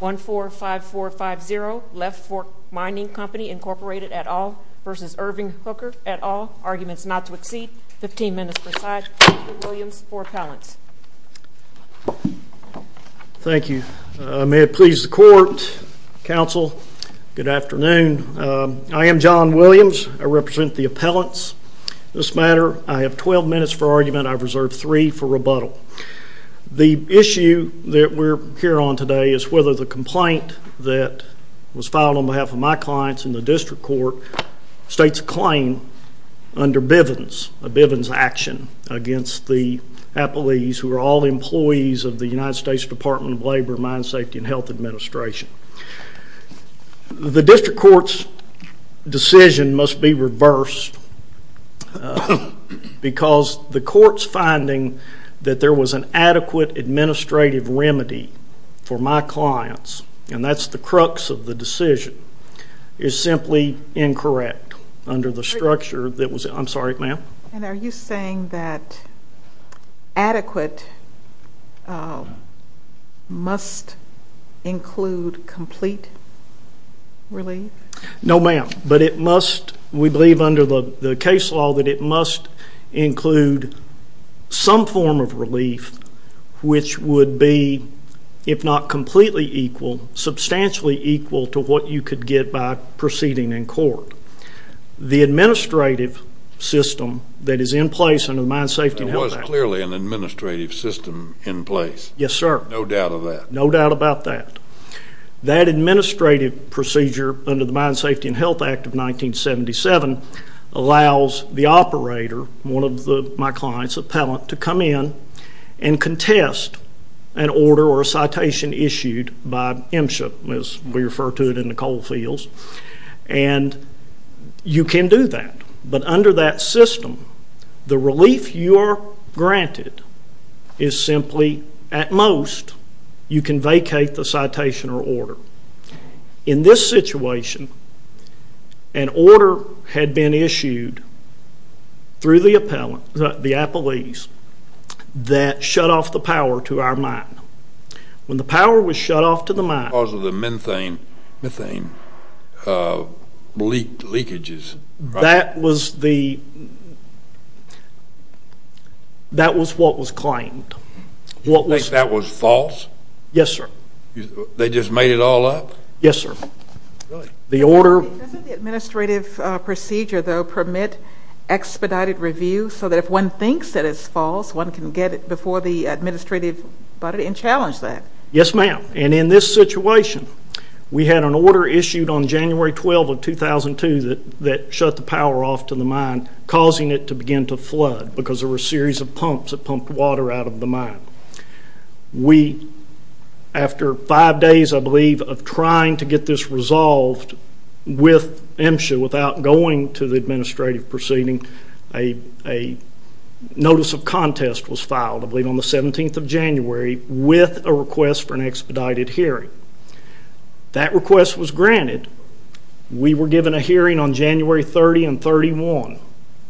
1-4-5-4-5-0 Left Fork Mining Company Incorporated, et al. v. Irving Hooker, et al. Arguments not to exceed 15 minutes per side. Thank you, Williams, for appellants. Thank you. May it please the Court, Counsel, good afternoon. I am John Williams. I represent the appellants. This matter, I have 12 minutes for argument. I've reserved 3 for rebuttal. The issue that we're here on today is whether the complaint that was filed on behalf of my clients in the District Court states a claim under Bivens, a Bivens action against the appellees who are all employees of the United States Department of Labor, Mine Safety, and Health Administration. The District Court's decision must be reversed because the Court's finding that there was an adequate administrative remedy for my clients, and that's the crux of the decision, is simply incorrect under the structure that was... I'm sorry, ma'am? And are you saying that adequate must include complete relief? No, ma'am, but it must, we believe under the case law, that it must include some form of relief, which would be, if not completely equal, substantially equal to what you could get by proceeding in court. The administrative system that is in place under the Mine Safety and Health Act... There was clearly an administrative system in place. Yes, sir. No doubt of that. No doubt about that. That administrative procedure under the Mine Safety and Health Act of 1977 allows the operator, one of my client's appellant, to come in and contest an order or a citation issued by MSHA, as we refer to it in the coal fields, and you can do that, but under that system, the relief you are granted is simply, at most, you can vacate the citation or order. In this situation, an order had been issued through the appellant, the appellees, that shut off the power to our mine. When the power was shut off to the mine... Because of the methane leakages. That was the, that was what was claimed. You think that was false? Yes, sir. They just made it all up? Yes, sir. Really? The order... Doesn't the administrative procedure, though, permit expedited review, so that if one thinks that it's false, one can get it before the administrative body and challenge that? Yes, ma'am. And in this situation, we had an order issued on January 12 of 2002 that shut the power off to the mine, causing it to begin to flood because there were a series of pumps that pumped water out of the mine. We, after five days, I believe, of trying to get this resolved with MSHA, without going to the administrative proceeding, a notice of contest was filed, I believe on the 17th of January, with a request for an expedited hearing. That request was granted. We were given a hearing on January 30 and 31,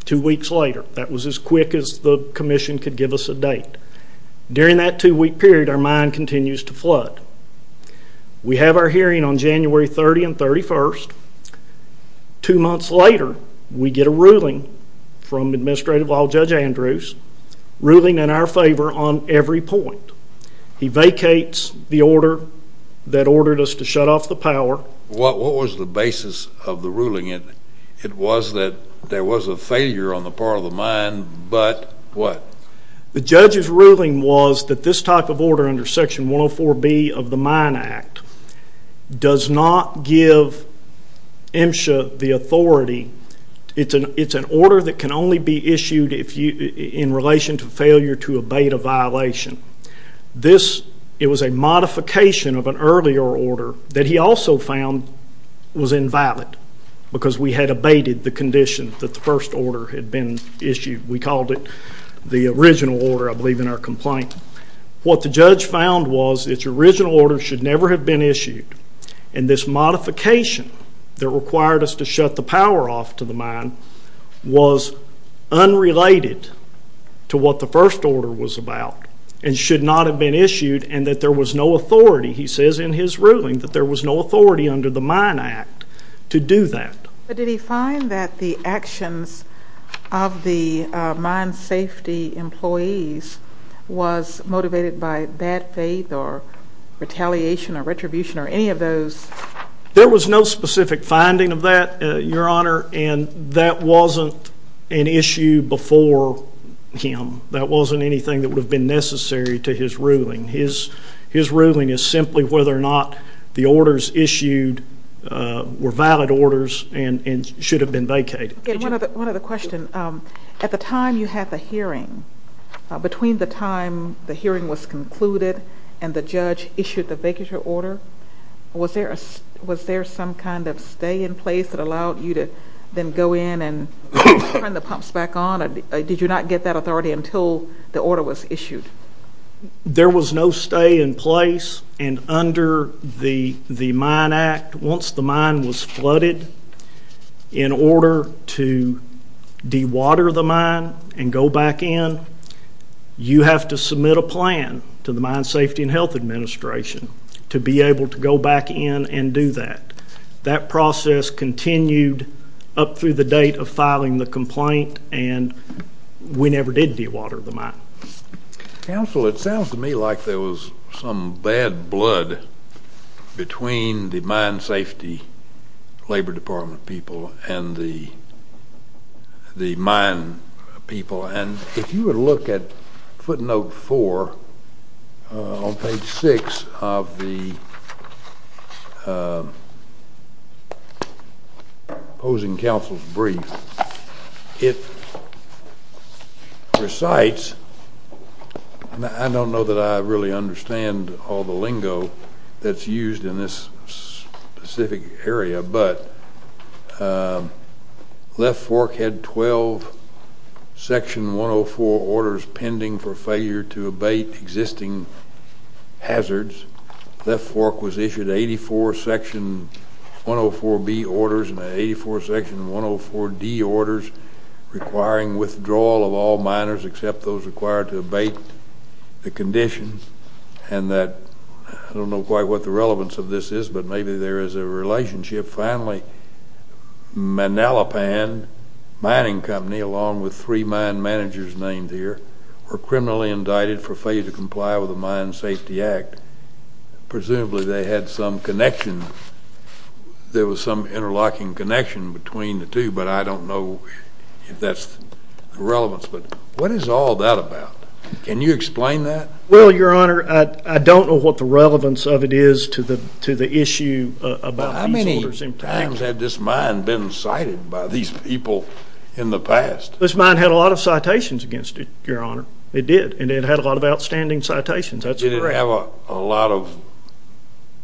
two weeks later. That was as quick as the commission could give us a date. During that two-week period, our mine continues to flood. We have our hearing on January 30 and 31. Two months later, we get a ruling from Administrative Law Judge Andrews, ruling in our favor on every point. He vacates the order that ordered us to shut off the power. What was the basis of the ruling? It was that there was a failure on the part of the mine, but what? The judge's ruling was that this type of order under Section 104B of the Mine Act does not give MSHA the authority. It's an order that can only be issued in relation to failure to abate a violation. It was a modification of an earlier order that he also found was invalid because we had abated the condition that the first order had been issued. We called it the original order, I believe, in our complaint. What the judge found was its original order should never have been issued, and this modification that required us to shut the power off to the mine was unrelated to what the first order was about and should not have been issued and that there was no authority, he says in his ruling, that there was no authority under the Mine Act to do that. But did he find that the actions of the mine safety employees was motivated by bad faith or retaliation or retribution or any of those? There was no specific finding of that, Your Honor, and that wasn't an issue before him. That wasn't anything that would have been necessary to his ruling. His ruling is simply whether or not the orders issued were valid orders and should have been vacated. One other question. At the time you had the hearing, between the time the hearing was concluded and the judge issued the vacature order, was there some kind of stay in place that allowed you to then go in and turn the pumps back on? Did you not get that authority until the order was issued? There was no stay in place, and under the Mine Act, once the mine was flooded, in order to dewater the mine and go back in, you have to submit a plan to the Mine Safety and Health Administration to be able to go back in and do that. That process continued up through the date of filing the complaint and we never did dewater the mine. Counsel, it sounds to me like there was some bad blood between the Mine Safety Labor Department people and the mine people, and if you would look at footnote 4 on page 6 of the opposing counsel's brief, it recites, and I don't know that I really understand all the lingo that's used in this specific area, but Left Fork had 12 Section 104 orders pending for failure to abate existing hazards. Left Fork was issued 84 Section 104B orders and 84 Section 104D orders requiring withdrawal of all miners except those required to abate the condition, and that, I don't know quite what the relevance of this is, but maybe there is a relationship. Finally, Manalapan Mining Company, along with three mine managers named here, were criminally indicted for failure to comply with the Mine Safety Act. Presumably they had some connection. There was some interlocking connection between the two, but I don't know if that's the relevance. But what is all that about? Can you explain that? Well, Your Honor, I don't know what the relevance of it is to the issue about these orders. How many times had this mine been cited by these people in the past? This mine had a lot of citations against it, Your Honor. It did, and it had a lot of outstanding citations. That's correct. Did it have a lot of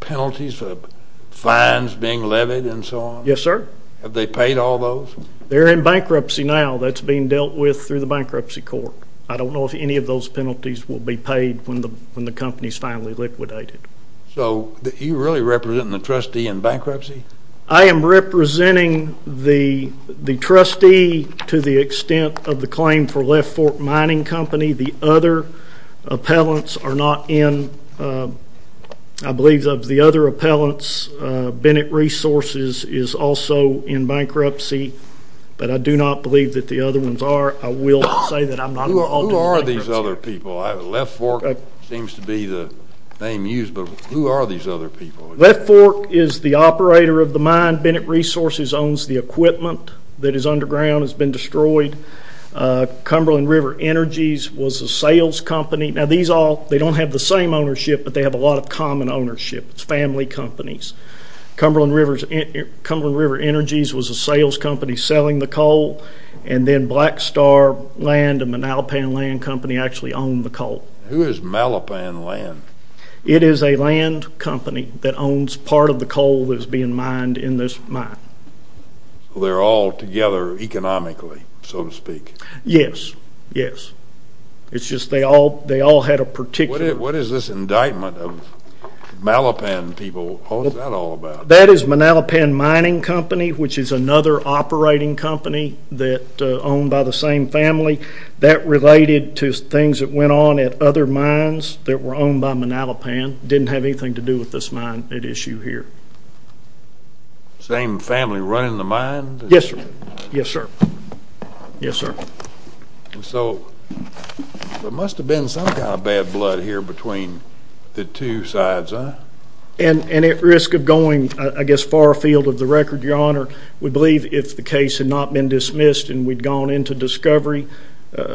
penalties, fines being levied and so on? Yes, sir. Have they paid all those? They're in bankruptcy now. That's being dealt with through the Bankruptcy Court. I don't know if any of those penalties will be paid when the company is finally liquidated. So you're really representing the trustee in bankruptcy? I am representing the trustee to the extent of the claim for Left Fork Mining Company. The other appellants are not in. I believe of the other appellants, Bennett Resources is also in bankruptcy, but I do not believe that the other ones are. I will say that I'm not involved in bankruptcy. Who are these other people? Left Fork seems to be the name used, but who are these other people? Left Fork is the operator of the mine. Bennett Resources owns the equipment that is underground, has been destroyed. Cumberland River Energies was a sales company. Now, these all, they don't have the same ownership, but they have a lot of common ownership. It's family companies. Cumberland River Energies was a sales company selling the coal, and then Black Star Land and Malapan Land Company actually owned the coal. Who is Malapan Land? It is a land company that owns part of the coal that is being mined in this mine. They're all together economically, so to speak. Yes, yes. It's just they all had a particular. What is this indictment of Malapan people, what is that all about? That is Malapan Mining Company, which is another operating company that owned by the same family. That related to things that went on at other mines that were owned by Malapan. It didn't have anything to do with this mine at issue here. Same family running the mine? Yes, sir. Yes, sir. Yes, sir. So there must have been some kind of bad blood here between the two sides, huh? And at risk of going, I guess, far afield of the record, Your Honor, we believe if the case had not been dismissed and we'd gone into discovery,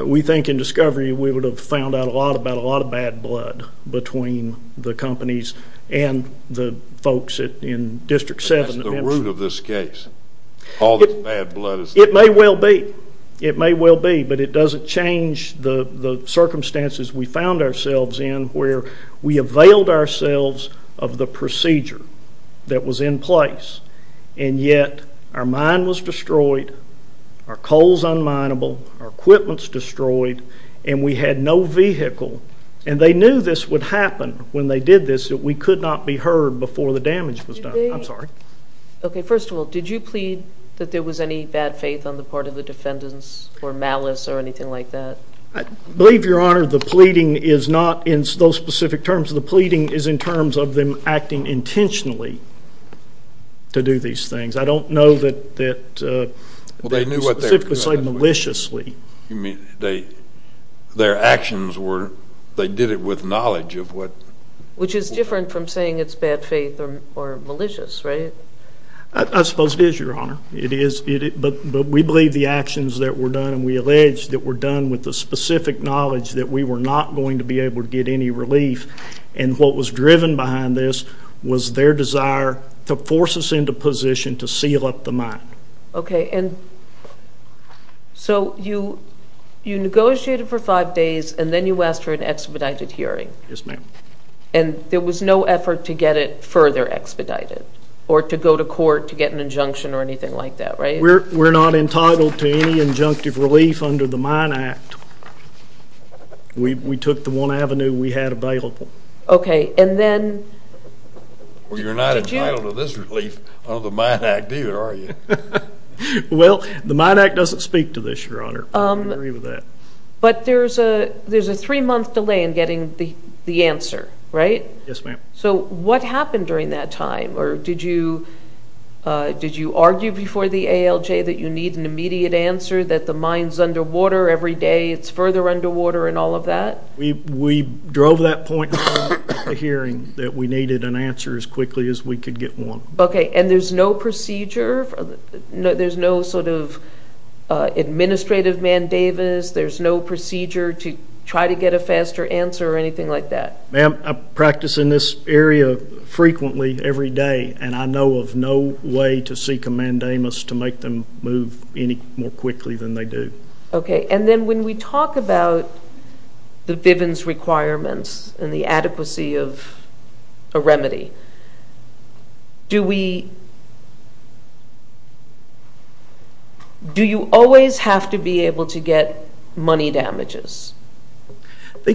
we think in discovery we would have found out a lot about a lot of bad blood between the companies and the folks in District 7. That's the root of this case, all this bad blood. It may well be. It may well be. But it doesn't change the circumstances we found ourselves in where we availed ourselves of the procedure that was in place, and yet our mine was destroyed, our coal is unmineable, our equipment is destroyed, and we had no vehicle. And they knew this would happen when they did this, that we could not be heard before the damage was done. I'm sorry. Okay, first of all, did you plead that there was any bad faith on the part of the defendants or malice or anything like that? I believe, Your Honor, the pleading is not in those specific terms. The pleading is in terms of them acting intentionally to do these things. I don't know that they specifically say maliciously. You mean their actions were they did it with knowledge of what? Which is different from saying it's bad faith or malicious, right? I suppose it is, Your Honor. But we believe the actions that were done, and we allege that were done with the specific knowledge that we were not going to be able to get any relief. And what was driven behind this was their desire to force us into position to seal up the mine. Okay, and so you negotiated for five days, and then you asked for an expedited hearing. Yes, ma'am. And there was no effort to get it further expedited or to go to court to get an injunction or anything like that, right? We're not entitled to any injunctive relief under the Mine Act. We took the one avenue we had available. Okay, and then did you? Well, you're not entitled to this relief under the Mine Act, either, are you? Well, the Mine Act doesn't speak to this, Your Honor. I agree with that. But there's a three-month delay in getting the answer, right? Yes, ma'am. So what happened during that time? Or did you argue before the ALJ that you need an immediate answer, that the mine's underwater every day, it's further underwater, and all of that? We drove that point in the hearing that we needed an answer as quickly as we could get one. Okay, and there's no procedure? There's no sort of administrative mandamus? There's no procedure to try to get a faster answer or anything like that? Ma'am, I practice in this area frequently every day, and I know of no way to seek a mandamus to make them move any more quickly than they do. Okay, and then when we talk about the Bivens requirements and the adequacy of a remedy, do you always have to be able to get money damages? I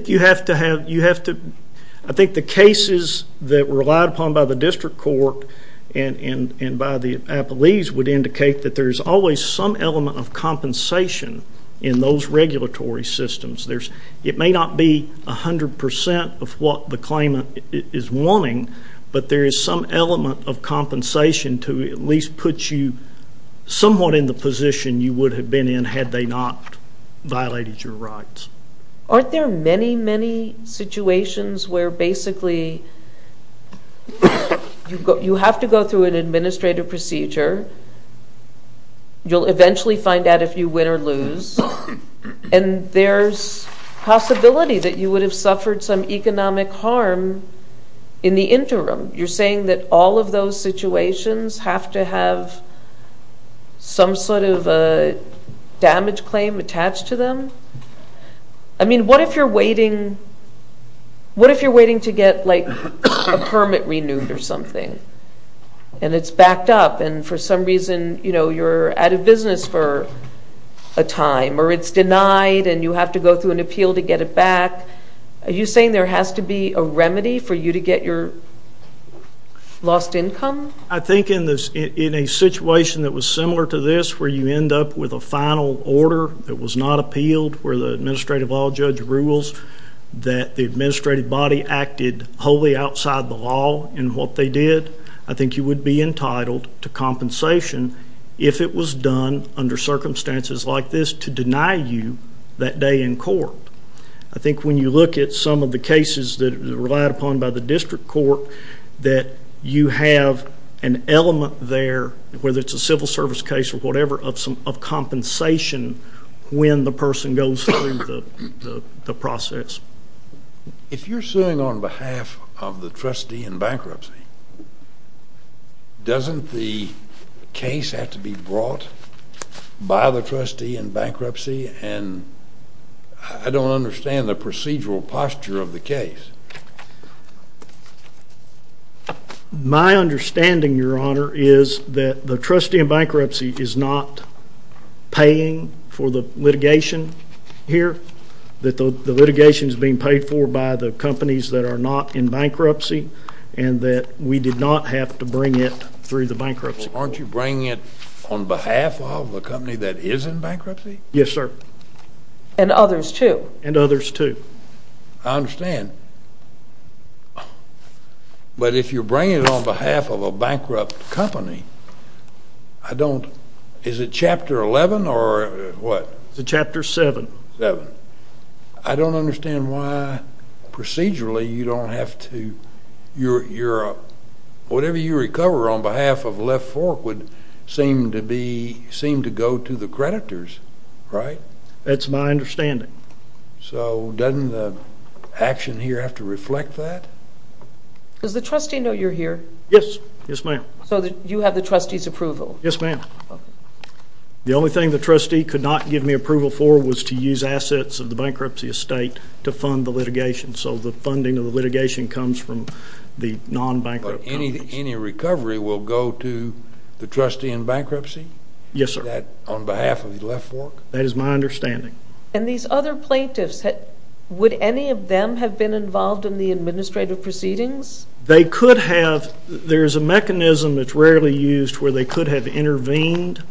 think the cases that were relied upon by the district court and by the appellees would indicate that there's always some element of compensation in those regulatory systems. It may not be 100% of what the claimant is wanting, but there is some element of compensation to at least put you somewhat in the position you would have been in had they not violated your rights. Aren't there many, many situations where basically you have to go through an administrative procedure, you'll eventually find out if you win or lose, and there's possibility that you would have suffered some economic harm in the interim? You're saying that all of those situations have to have some sort of a damage claim attached to them? I mean, what if you're waiting to get, like, a permit renewed or something, and it's backed up, and for some reason you're out of business for a time, or it's denied and you have to go through an appeal to get it back? Are you saying there has to be a remedy for you to get your lost income? I think in a situation that was similar to this, where you end up with a final order that was not appealed, where the administrative law judge rules that the administrative body acted wholly outside the law in what they did, I think you would be entitled to compensation if it was done under circumstances like this to deny you that day in court. I think when you look at some of the cases that are relied upon by the district court, that you have an element there, whether it's a civil service case or whatever, of compensation when the person goes through the process. If you're suing on behalf of the trustee in bankruptcy, doesn't the case have to be brought by the trustee in bankruptcy? And I don't understand the procedural posture of the case. My understanding, Your Honor, is that the trustee in bankruptcy is not paying for the litigation here, that the litigation is being paid for by the companies that are not in bankruptcy, and that we did not have to bring it through the bankruptcy. Well, aren't you bringing it on behalf of the company that is in bankruptcy? Yes, sir. And others, too. And others, too. I understand. But if you're bringing it on behalf of a bankrupt company, I don't... Is it Chapter 11 or what? It's Chapter 7. 7. I don't understand why procedurally you don't have to... Whatever you recover on behalf of Left Fork would seem to go to the creditors, right? That's my understanding. So doesn't the action here have to reflect that? Does the trustee know you're here? Yes. Yes, ma'am. So you have the trustee's approval? Yes, ma'am. The only thing the trustee could not give me approval for was to use assets of the bankruptcy estate to fund the litigation. So the funding of the litigation comes from the non-bankrupt companies. But any recovery will go to the trustee in bankruptcy? Yes, sir. That on behalf of Left Fork? That is my understanding. And these other plaintiffs, would any of them have been involved in the administrative proceedings? They could have. There's a mechanism that's rarely used where they could have intervened,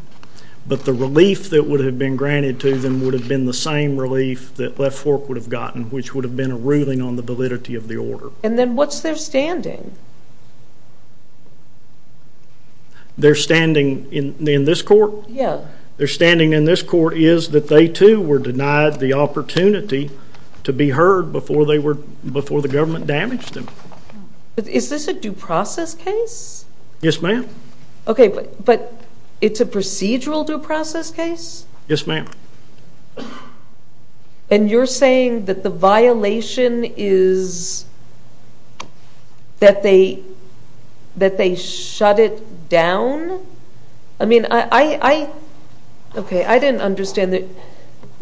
but the relief that would have been granted to them would have been the same relief that Left Fork would have gotten, which would have been a ruling on the validity of the order. And then what's their standing? Their standing in this court? Yes. Their standing in this court is that they, too, were denied the opportunity to be heard before the government damaged them. Is this a due process case? Yes, ma'am. Okay, but it's a procedural due process case? Yes, ma'am. And you're saying that the violation is that they shut it down? I mean, I didn't understand that.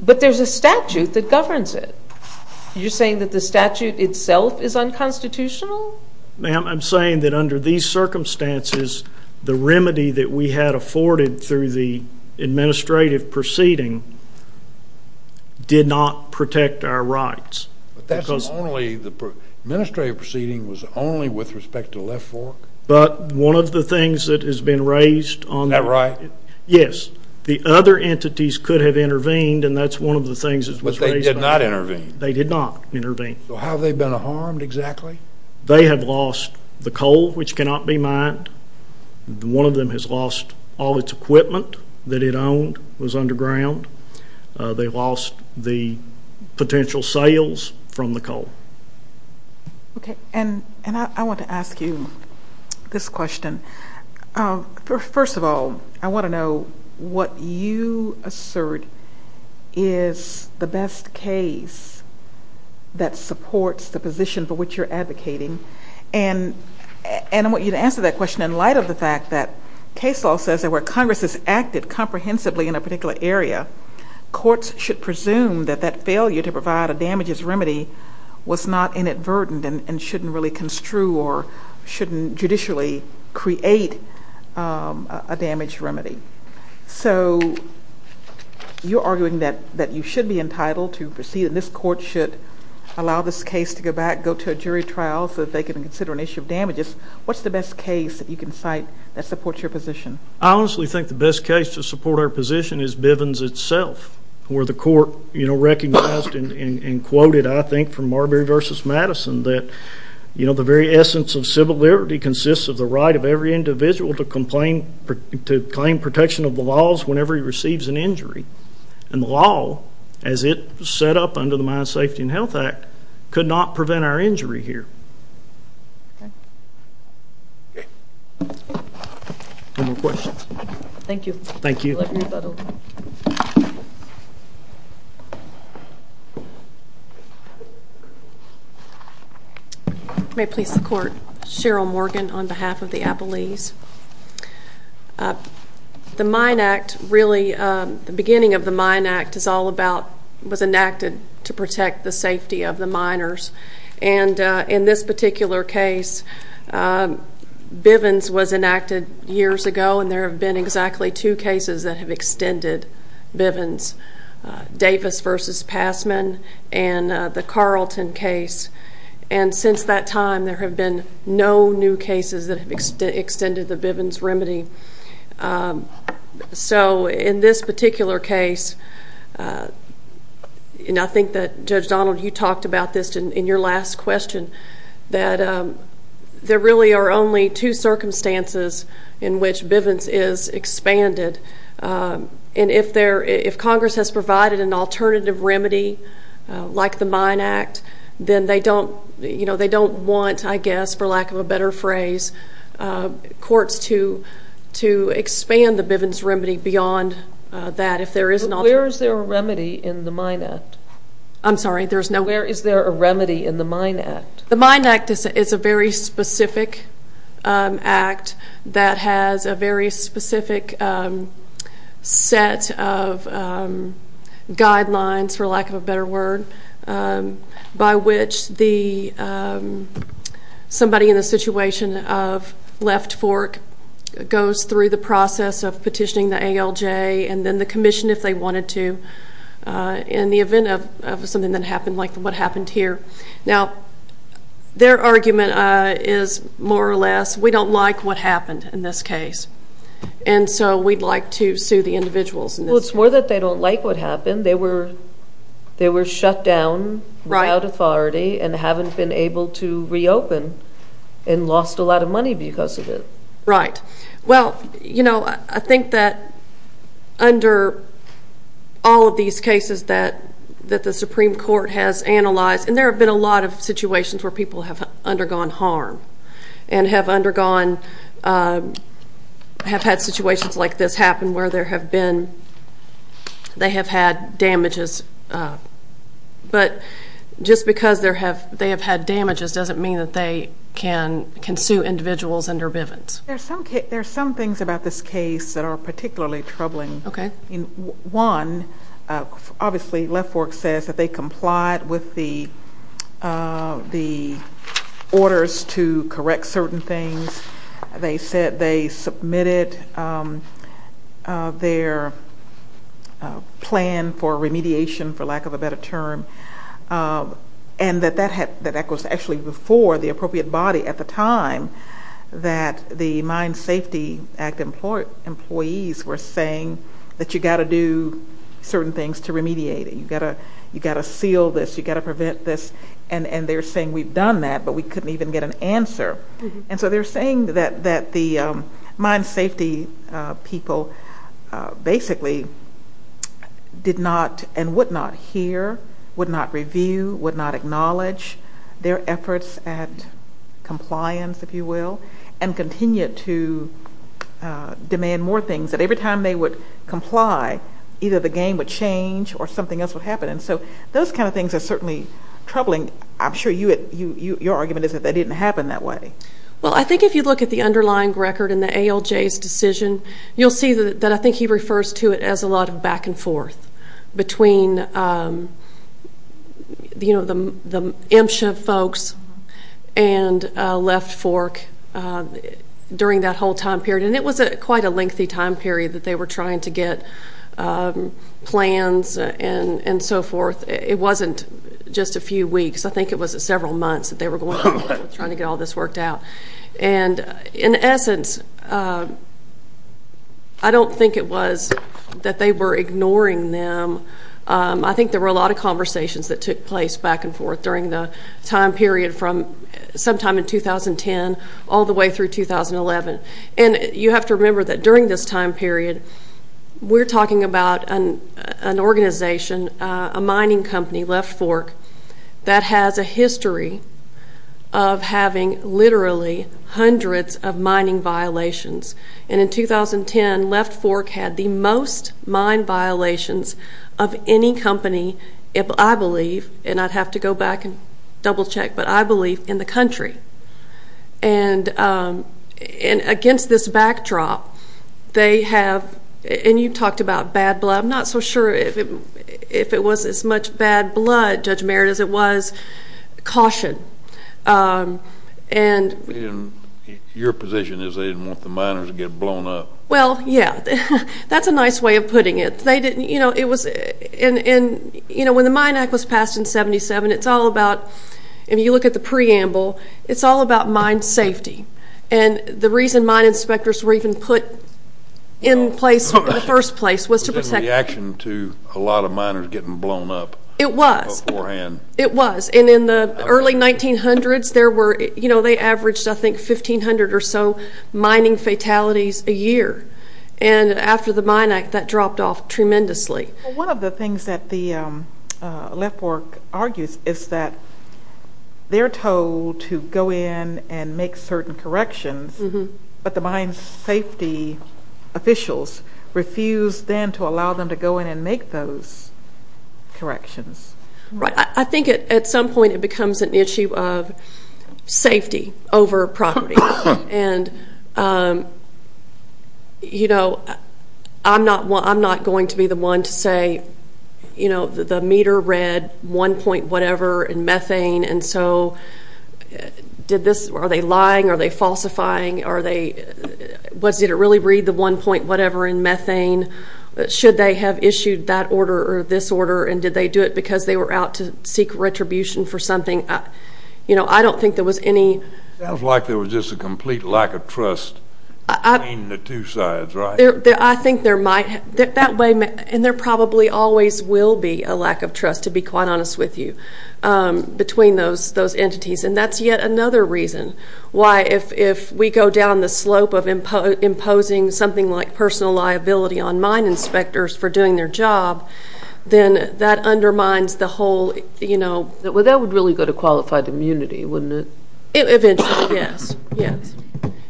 But there's a statute that governs it. You're saying that the statute itself is unconstitutional? Ma'am, I'm saying that under these circumstances, the remedy that we had afforded through the administrative proceeding did not protect our rights. But that's only the administrative proceeding was only with respect to Left Fork? But one of the things that has been raised on that. That right? Yes. The other entities could have intervened, and that's one of the things that was raised. But they did not intervene? They did not intervene. So how have they been harmed exactly? They have lost the coal, which cannot be mined. One of them has lost all its equipment that it owned was underground. They lost the potential sales from the coal. Okay. And I want to ask you this question. First of all, I want to know what you assert is the best case that supports the position for which you're advocating. And I want you to answer that question in light of the fact that case law says that where Congress has acted comprehensively in a particular area, courts should presume that that failure to provide a damages remedy was not inadvertent and shouldn't really construe or shouldn't judicially create a damage remedy. So you're arguing that you should be entitled to proceed, and this court should allow this case to go back, go to a jury trial, so that they can consider an issue of damages. What's the best case that you can cite that supports your position? I honestly think the best case to support our position is Bivens itself, where the court recognized and quoted, I think, from Marbury v. Madison, that the very essence of civil liberty consists of the right of every individual to claim protection of the laws whenever he receives an injury. And the law, as it set up under the Mine Safety and Health Act, could not prevent our injury here. Okay. Any more questions? Thank you. Thank you. Thank you. May it please the Court. Cheryl Morgan on behalf of the Appalese. The Mine Act really, the beginning of the Mine Act, was enacted to protect the safety of the miners. And in this particular case, Bivens was enacted years ago, and there have been exactly two cases that have extended Bivens, Davis v. Passman and the Carlton case. And since that time, there have been no new cases that have extended the Bivens remedy. So in this particular case, and I think that, Judge Donald, you talked about this in your last question, that there really are only two circumstances in which Bivens is expanded. And if Congress has provided an alternative remedy like the Mine Act, then they don't want, I guess, for lack of a better phrase, courts to expand the Bivens remedy beyond that. Where is there a remedy in the Mine Act? I'm sorry? Where is there a remedy in the Mine Act? The Mine Act is a very specific act that has a very specific set of guidelines, for lack of a better word, by which somebody in the situation of left fork goes through the process of petitioning the ALJ and then the commission if they wanted to in the event of something that happened like what happened here. Now, their argument is more or less, we don't like what happened in this case. And so we'd like to sue the individuals. Well, it's more that they don't like what happened. They were shut down without authority and haven't been able to reopen and lost a lot of money because of it. Right. Well, you know, I think that under all of these cases that the Supreme Court has analyzed, and there have been a lot of situations where people have undergone harm and have had situations like this happen where they have had damages. But just because they have had damages doesn't mean that they can sue individuals under Bivens. There are some things about this case that are particularly troubling. Okay. One, obviously left fork says that they complied with the orders to correct certain things. They said they submitted their plan for remediation, for lack of a better term, and that that was actually before the appropriate body at the time that the Mind Safety Act employees were saying that you've got to do certain things to remediate it. You've got to seal this. You've got to prevent this. And they're saying we've done that, but we couldn't even get an answer. And so they're saying that the mind safety people basically did not and would not hear, would not review, would not acknowledge their efforts at compliance, if you will, and continued to demand more things that every time they would comply, either the game would change or something else would happen. And so those kind of things are certainly troubling. I'm sure your argument is that that didn't happen that way. Well, I think if you look at the underlying record in the ALJ's decision, you'll see that I think he refers to it as a lot of back and forth between, you know, the MSHA folks and left fork during that whole time period. And it was quite a lengthy time period that they were trying to get plans and so forth. It wasn't just a few weeks. I think it was several months that they were going on trying to get all this worked out. And in essence, I don't think it was that they were ignoring them. I think there were a lot of conversations that took place back and forth during the time period from sometime in 2010 all the way through 2011. And you have to remember that during this time period, we're talking about an organization, a mining company, Left Fork, that has a history of having literally hundreds of mining violations. And in 2010, Left Fork had the most mine violations of any company, I believe, and I'd have to go back and double check, but I believe in the country. And against this backdrop, they have, and you talked about bad blood. I'm not so sure if it was as much bad blood, Judge Merritt, as it was caution. And your position is they didn't want the miners to get blown up. Well, yeah. That's a nice way of putting it. They didn't, you know, it was, and, you know, when the Mine Act was passed in 77, it's all about, if you look at the preamble, it's all about mine safety. And the reason mine inspectors were even put in place in the first place was to protect. It was in reaction to a lot of miners getting blown up. It was. Beforehand. It was. And in the early 1900s, there were, you know, they averaged, I think, 1,500 or so mining fatalities a year. And after the Mine Act, that dropped off tremendously. Well, one of the things that the left work argues is that they're told to go in and make certain corrections, but the mine safety officials refuse then to allow them to go in and make those corrections. Right. I think at some point it becomes an issue of safety over property. And, you know, I'm not going to be the one to say, you know, the meter read one point whatever in methane, and so did this, are they lying, are they falsifying, are they, did it really read the one point whatever in methane? Should they have issued that order or this order, and did they do it because they were out to seek retribution for something? You know, I don't think there was any. It sounds like there was just a complete lack of trust between the two sides, right? I think there might. And there probably always will be a lack of trust, to be quite honest with you, between those entities, and that's yet another reason why if we go down the slope of imposing something like personal liability on mine inspectors for doing their job, then that undermines the whole, you know. Well, that would really go to qualified immunity, wouldn't it? Eventually, yes, yes.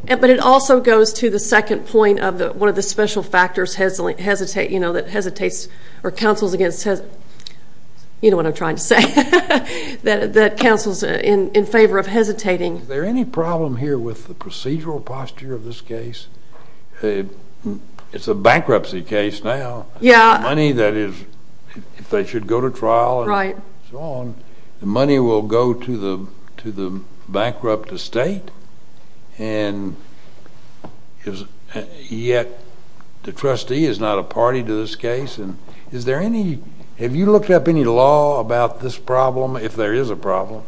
But it also goes to the second point of one of the special factors that hesitates or counsels against, you know what I'm trying to say, that counsels in favor of hesitating. Is there any problem here with the procedural posture of this case? It's a bankruptcy case now. Yeah. The money that is, if they should go to trial and so on, the money will go to the bankrupt estate, and yet the trustee is not a party to this case. And is there any, have you looked up any law about this problem, if there is a problem?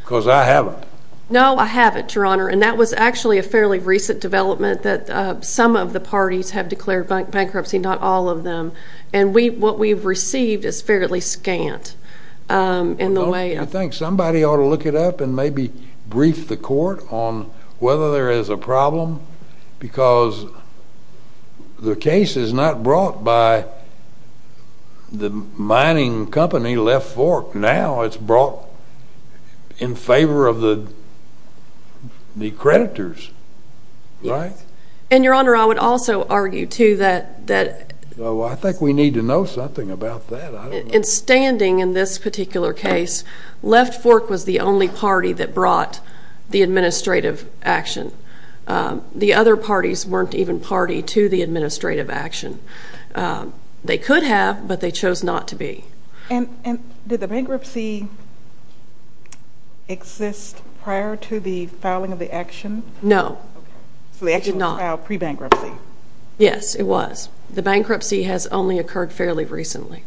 Because I haven't. No, I haven't, Your Honor, and that was actually a fairly recent development that some of the parties have declared bankruptcy, not all of them. And what we've received is fairly scant in the way of Well, don't you think somebody ought to look it up and maybe brief the court on whether there is a problem? Because the case is not brought by the mining company Left Fork now. It's brought in favor of the creditors, right? And, Your Honor, I would also argue, too, that Well, I think we need to know something about that. In standing in this particular case, Left Fork was the only party that brought the administrative action. The other parties weren't even party to the administrative action. They could have, but they chose not to be. And did the bankruptcy exist prior to the filing of the action? No, it did not. So the action was filed pre-bankruptcy? Yes, it was. The bankruptcy has only occurred fairly recently.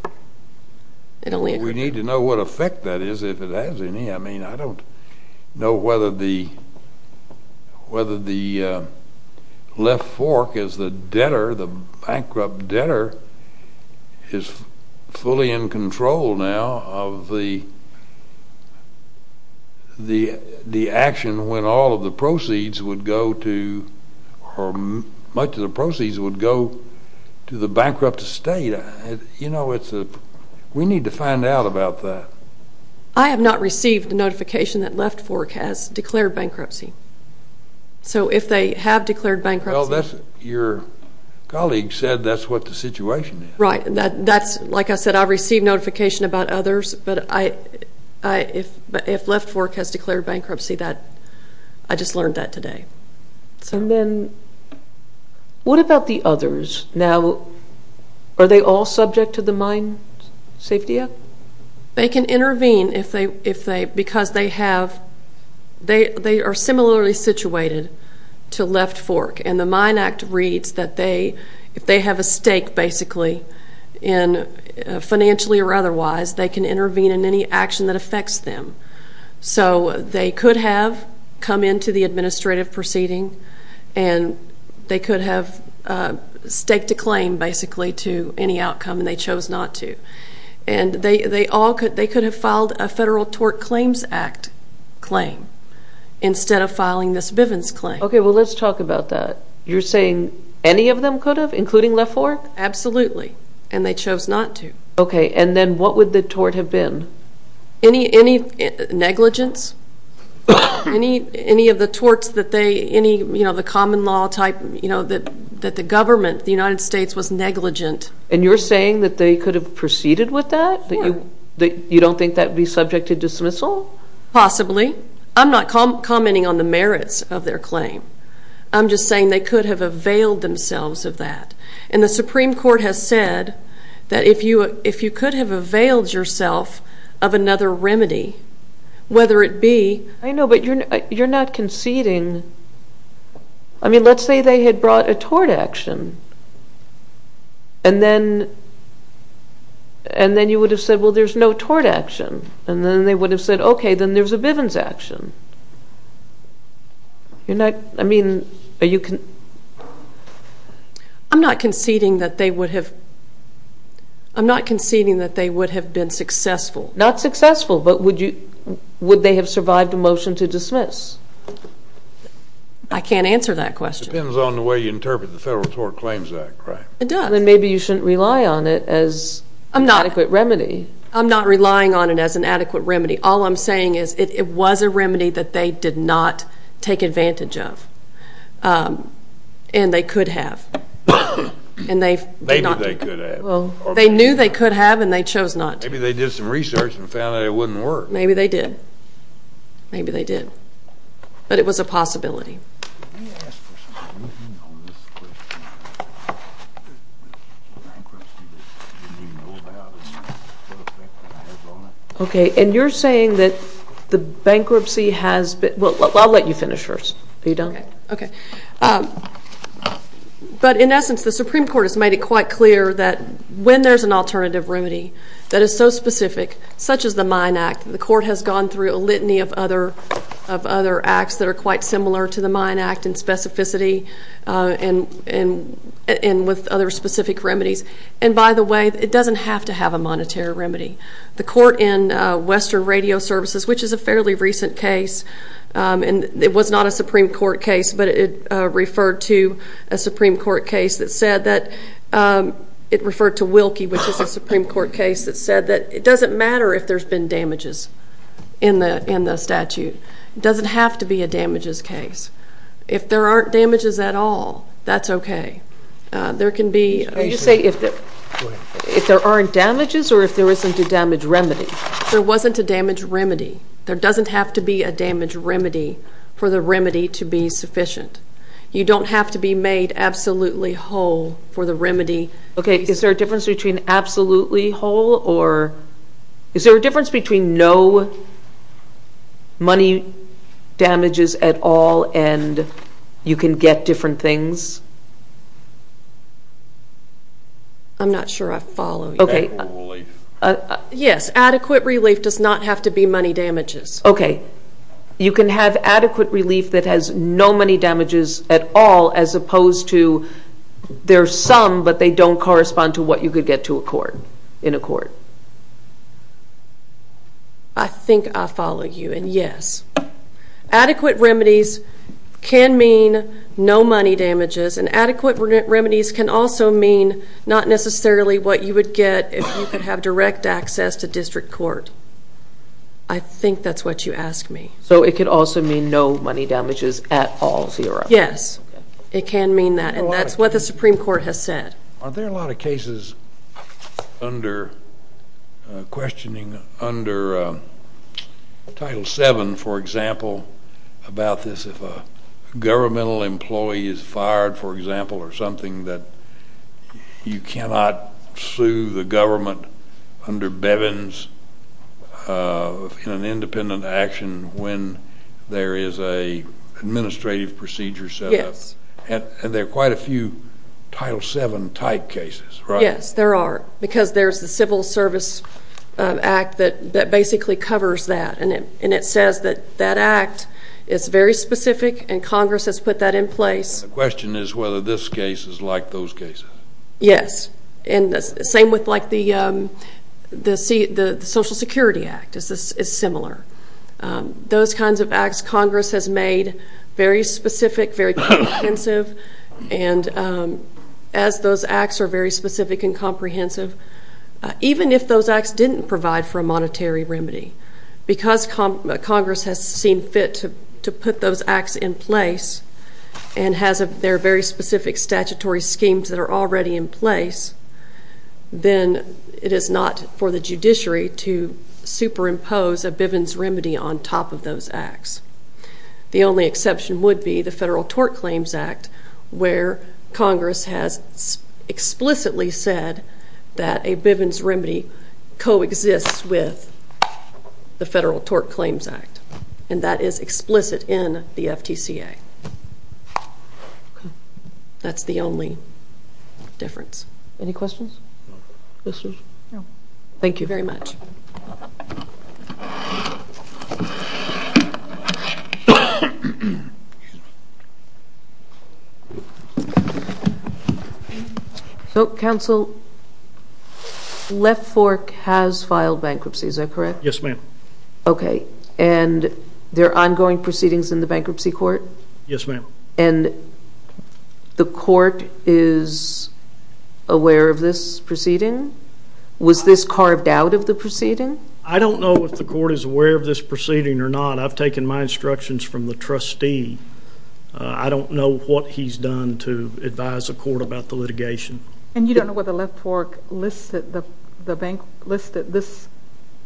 It only occurred We need to know what effect that is, if it has any. I mean, I don't know whether the Left Fork is the debtor, the bankrupt debtor, is fully in control now of the action when all of the proceeds would go to or much of the proceeds would go to the bankrupt state. You know, we need to find out about that. I have not received a notification that Left Fork has declared bankruptcy. So if they have declared bankruptcy Well, your colleague said that's what the situation is. Right. Like I said, I received notification about others, but if Left Fork has declared bankruptcy, I just learned that today. And then, what about the others? Now, are they all subject to the Mine Safety Act? They can intervene because they are similarly situated to Left Fork. And the Mine Act reads that if they have a stake, basically, financially or otherwise, they can intervene in any action that affects them. So they could have come into the administrative proceeding and they could have staked a claim, basically, to any outcome, and they chose not to. And they could have filed a Federal Tort Claims Act claim instead of filing this Bivens claim. Okay, well, let's talk about that. You're saying any of them could have, including Left Fork? Absolutely, and they chose not to. Okay, and then what would the tort have been? Any negligence, any of the torts that they, you know, the common law type, you know, that the government, the United States, was negligent. And you're saying that they could have proceeded with that? You don't think that would be subject to dismissal? Possibly. I'm not commenting on the merits of their claim. I'm just saying they could have availed themselves of that. And the Supreme Court has said that if you could have availed yourself of another remedy, whether it be… I know, but you're not conceding. I mean, let's say they had brought a tort action, and then you would have said, well, there's no tort action. And then they would have said, okay, then there's a Bivens action. You're not, I mean, are you… I'm not conceding that they would have been successful. Not successful, but would they have survived a motion to dismiss? I can't answer that question. It depends on the way you interpret the Federal Tort Claims Act, right? It does. Then maybe you shouldn't rely on it as an adequate remedy. I'm not relying on it as an adequate remedy. All I'm saying is it was a remedy that they did not take advantage of, and they could have. Maybe they could have. They knew they could have, and they chose not to. Maybe they did some research and found that it wouldn't work. Maybe they did. Maybe they did. But it was a possibility. Okay, and you're saying that the bankruptcy has been… Well, I'll let you finish first. Are you done? Okay. But in essence, the Supreme Court has made it quite clear that when there's an alternative remedy that is so specific, such as the Mine Act, the court has gone through a litany of other acts that are quite similar to the Mine Act in specificity and with other specific remedies. And by the way, it doesn't have to have a monetary remedy. The court in Western Radio Services, which is a fairly recent case, and it was not a Supreme Court case, but it referred to a Supreme Court case that said that it doesn't matter if there's been damages in the statute. It doesn't have to be a damages case. If there aren't damages at all, that's okay. There can be… Are you saying if there aren't damages or if there isn't a damage remedy? There wasn't a damage remedy. There doesn't have to be a damage remedy for the remedy to be sufficient. You don't have to be made absolutely whole for the remedy. Okay. Is there a difference between absolutely whole or is there a difference between no money damages at all and you can get different things? I'm not sure I follow you. Adequate relief. Yes, adequate relief does not have to be money damages. Okay. You can have adequate relief that has no money damages at all as opposed to there's some, but they don't correspond to what you could get to a court, in a court. I think I follow you, and yes. Adequate remedies can mean no money damages, and adequate remedies can also mean not necessarily what you would get if you could have direct access to district court. I think that's what you asked me. So it could also mean no money damages at all? Yes, it can mean that, and that's what the Supreme Court has said. Are there a lot of cases under questioning under Title VII, for example, about this? If a governmental employee is fired, for example, or something that you cannot sue the government under Bevin's independent action when there is an administrative procedure set up. Yes. And there are quite a few Title VII type cases, right? Yes, there are, because there's the Civil Service Act that basically covers that, and it says that that act is very specific, and Congress has put that in place. The question is whether this case is like those cases. Yes, and the same with like the Social Security Act is similar. Those kinds of acts Congress has made very specific, very comprehensive, and as those acts are very specific and comprehensive, even if those acts didn't provide for a monetary remedy, because Congress has seen fit to put those acts in place and has their very specific statutory schemes that are already in place, then it is not for the judiciary to superimpose a Bevin's remedy on top of those acts. The only exception would be the Federal Tort Claims Act, where Congress has explicitly said that a Bevin's remedy coexists with the Federal Tort Claims Act, and that is explicit in the FTCA. That's the only difference. Any questions? Thank you very much. Counsel, Left Fork has filed bankruptcy, is that correct? Yes, ma'am. Okay, and there are ongoing proceedings in the bankruptcy court? Yes, ma'am. And the court is aware of this proceeding? Was this carved out of the proceeding? I don't know if the court is aware of this proceeding or not. I've taken my instructions from the trustee. I don't know what he's done to advise the court about the litigation. And you don't know whether Left Fork listed this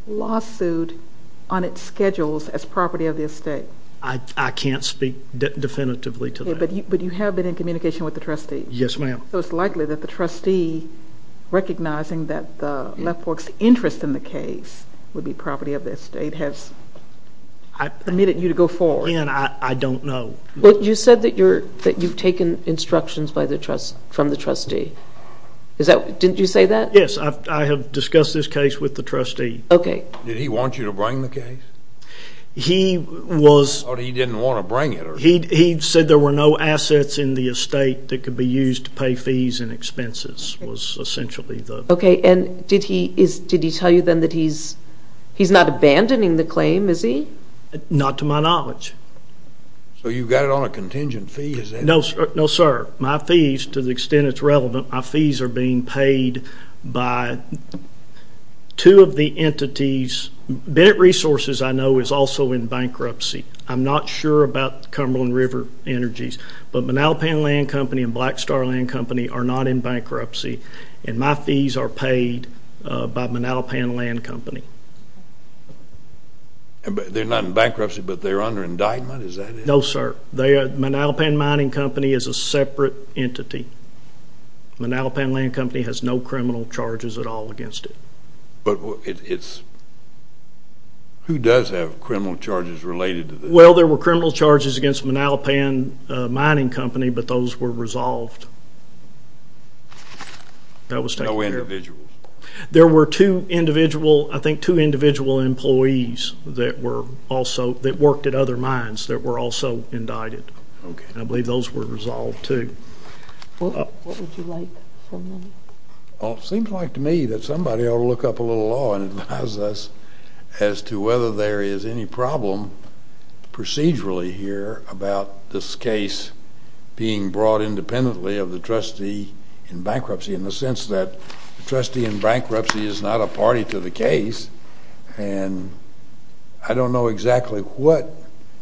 lawsuit on its schedules as property of the estate? I can't speak definitively to that. But you have been in communication with the trustee? Yes, ma'am. So it's likely that the trustee, recognizing that Left Fork's interest in the case would be property of the estate, has permitted you to go forward? Again, I don't know. But you said that you've taken instructions from the trustee. Didn't you say that? Yes, I have discussed this case with the trustee. Okay. Did he want you to bring the case? Or he didn't want to bring it? He said there were no assets in the estate that could be used to pay fees and expenses, was essentially the... Okay, and did he tell you then that he's not abandoning the claim, is he? Not to my knowledge. So you've got it on a contingent fee, is that it? No, sir. My fees, to the extent it's relevant, my fees are being paid by two of the entities. Bennett Resources, I know, is also in bankruptcy. I'm not sure about Cumberland River Energies. But Manalpan Land Company and Blackstar Land Company are not in bankruptcy. And my fees are paid by Manalpan Land Company. They're not in bankruptcy, but they're under indictment, is that it? No, sir. Manalpan Mining Company is a separate entity. Manalpan Land Company has no criminal charges at all against it. But it's... Who does have criminal charges related to this? Well, there were criminal charges against Manalpan Mining Company, but those were resolved. That was taken care of. No individuals? There were two individual employees that worked at other mines that were also indicted. I believe those were resolved, too. What would you like from them? It seems like to me that somebody ought to look up a little law and advise us as to whether there is any problem procedurally here about this case being brought independently of the trustee in bankruptcy in the sense that the trustee in bankruptcy is not a party to the case. And I don't know exactly what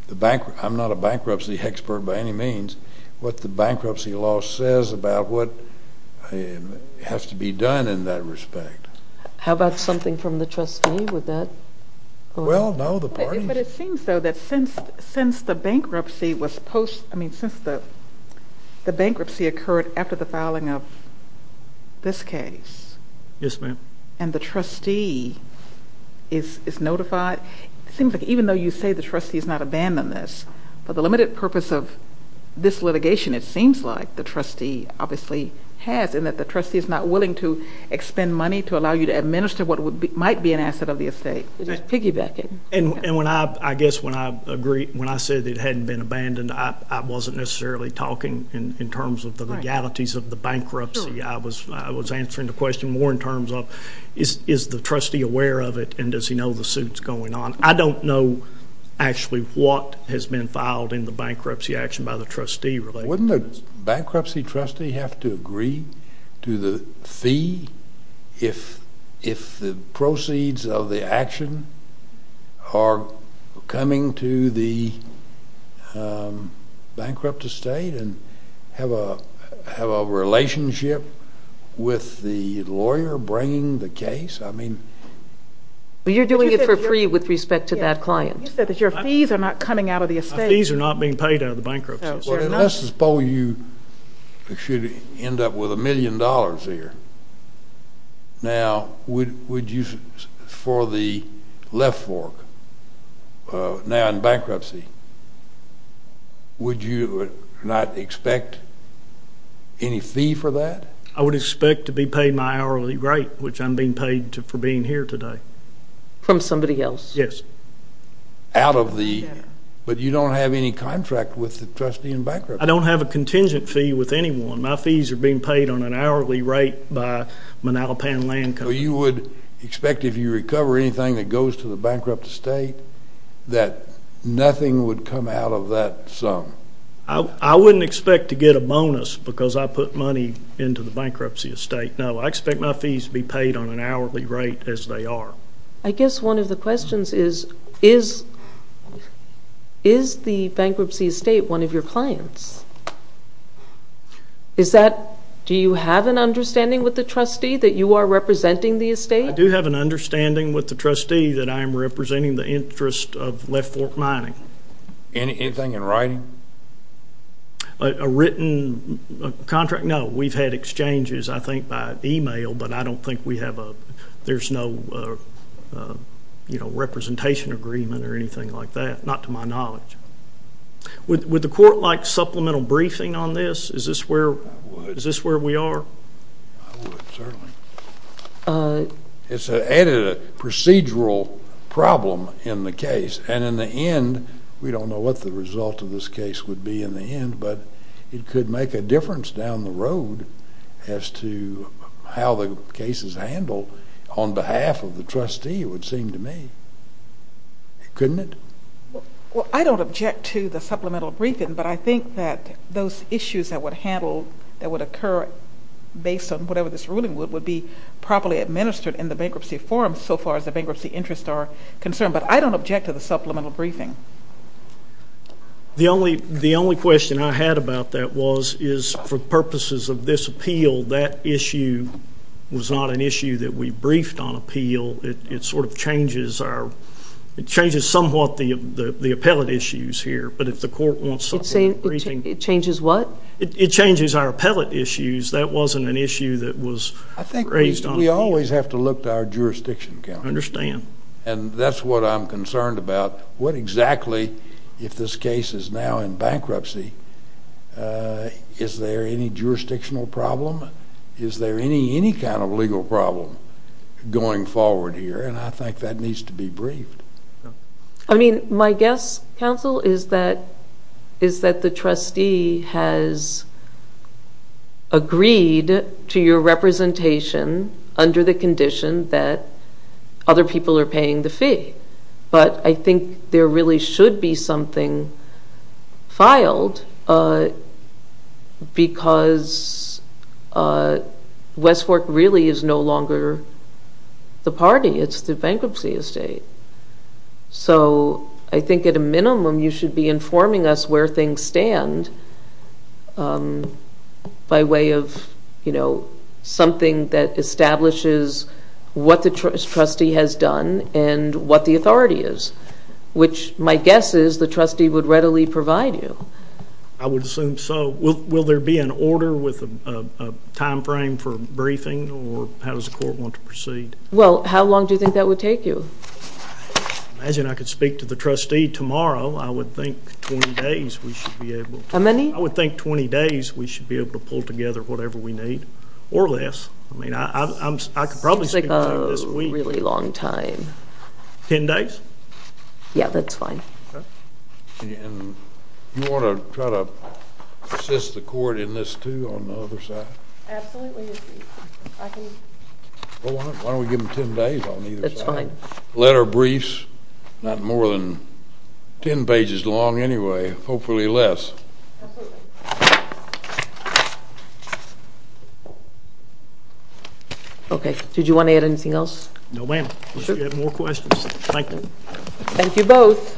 the bank...I'm not a bankruptcy expert by any means, what the bankruptcy law says about what has to be done in that respect. How about something from the trustee with that? Well, no, the party... But it seems, though, that since the bankruptcy occurred after the filing of this case... Yes, ma'am. ...and the trustee is notified, it seems like even though you say the trustee has not abandoned this, but the limited purpose of this litigation it seems like the trustee obviously has in that the trustee is not willing to expend money to allow you to administer what might be an asset of the estate. It is piggybacking. And when I...I guess when I agree...when I said it hadn't been abandoned, I wasn't necessarily talking in terms of the legalities of the bankruptcy. I was answering the question more in terms of is the trustee aware of it and does he know the suit's going on? I don't know actually what has been filed in the bankruptcy action by the trustee related to this. Does the bankruptcy trustee have to agree to the fee if the proceeds of the action are coming to the bankrupt estate and have a relationship with the lawyer bringing the case? I mean... But you're doing it for free with respect to that client. You said that your fees are not coming out of the estate. My fees are not being paid out of the bankruptcy. Well, let's suppose you should end up with a million dollars here. Now, would you...for the left fork, now in bankruptcy, would you not expect any fee for that? I would expect to be paid my hourly rate, which I'm being paid for being here today. From somebody else? Yes. But you don't have any contract with the trustee in bankruptcy. I don't have a contingent fee with anyone. My fees are being paid on an hourly rate by Manalapan Land Company. So you would expect if you recover anything that goes to the bankrupt estate that nothing would come out of that sum? I wouldn't expect to get a bonus because I put money into the bankruptcy estate. No, I expect my fees to be paid on an hourly rate as they are. I guess one of the questions is, is the bankruptcy estate one of your clients? Do you have an understanding with the trustee that you are representing the estate? I do have an understanding with the trustee that I am representing the interest of left fork mining. Anything in writing? A written contract? No, we've had exchanges, I think, by email, but I don't think there's no representation agreement or anything like that, not to my knowledge. Would the court like supplemental briefing on this? I would. Is this where we are? I would, certainly. It's an added procedural problem in the case, and in the end, we don't know what the result of this case would be in the end, but it could make a difference down the road as to how the case is handled on behalf of the trustee, it would seem to me. Couldn't it? Well, I don't object to the supplemental briefing, but I think that those issues that would occur based on whatever this ruling would, would be properly administered in the bankruptcy forum so far as the bankruptcy interests are concerned, but I don't object to the supplemental briefing. The only question I had about that was, is for purposes of this appeal, that issue was not an issue that we briefed on appeal. It sort of changes our, it changes somewhat the appellate issues here, but if the court wants supplemental briefing. It changes what? It changes our appellate issues. That wasn't an issue that was raised on appeal. I think we always have to look to our jurisdiction county. I understand. And that's what I'm concerned about. What exactly, if this case is now in bankruptcy, is there any jurisdictional problem? Is there any kind of legal problem going forward here? And I think that needs to be briefed. I mean, my guess, counsel, is that the trustee has agreed to your representation under the condition that other people are paying the fee, but I think there really should be something filed because West Fork really is no longer the party. It's the bankruptcy estate. So I think at a minimum, you should be informing us where things stand by way of, you know, something that establishes what the trustee has done and what the authority is, which my guess is the trustee would readily provide you. I would assume so. Will there be an order with a timeframe for briefing, or how does the court want to proceed? Well, how long do you think that would take you? I imagine I could speak to the trustee tomorrow. I would think 20 days we should be able to. How many? I would think 20 days we should be able to pull together whatever we need, or less. I mean, I could probably speak to him this week. That seems like a really long time. Ten days? Yeah, that's fine. Okay. And you want to try to assist the court in this, too, on the other side? Absolutely. Well, why don't we give them ten days on either side? That's fine. Letter briefs, not more than ten pages long anyway, hopefully less. Absolutely. Okay. Did you want to add anything else? No, ma'am. Unless you have more questions. Thank you. Thank you both.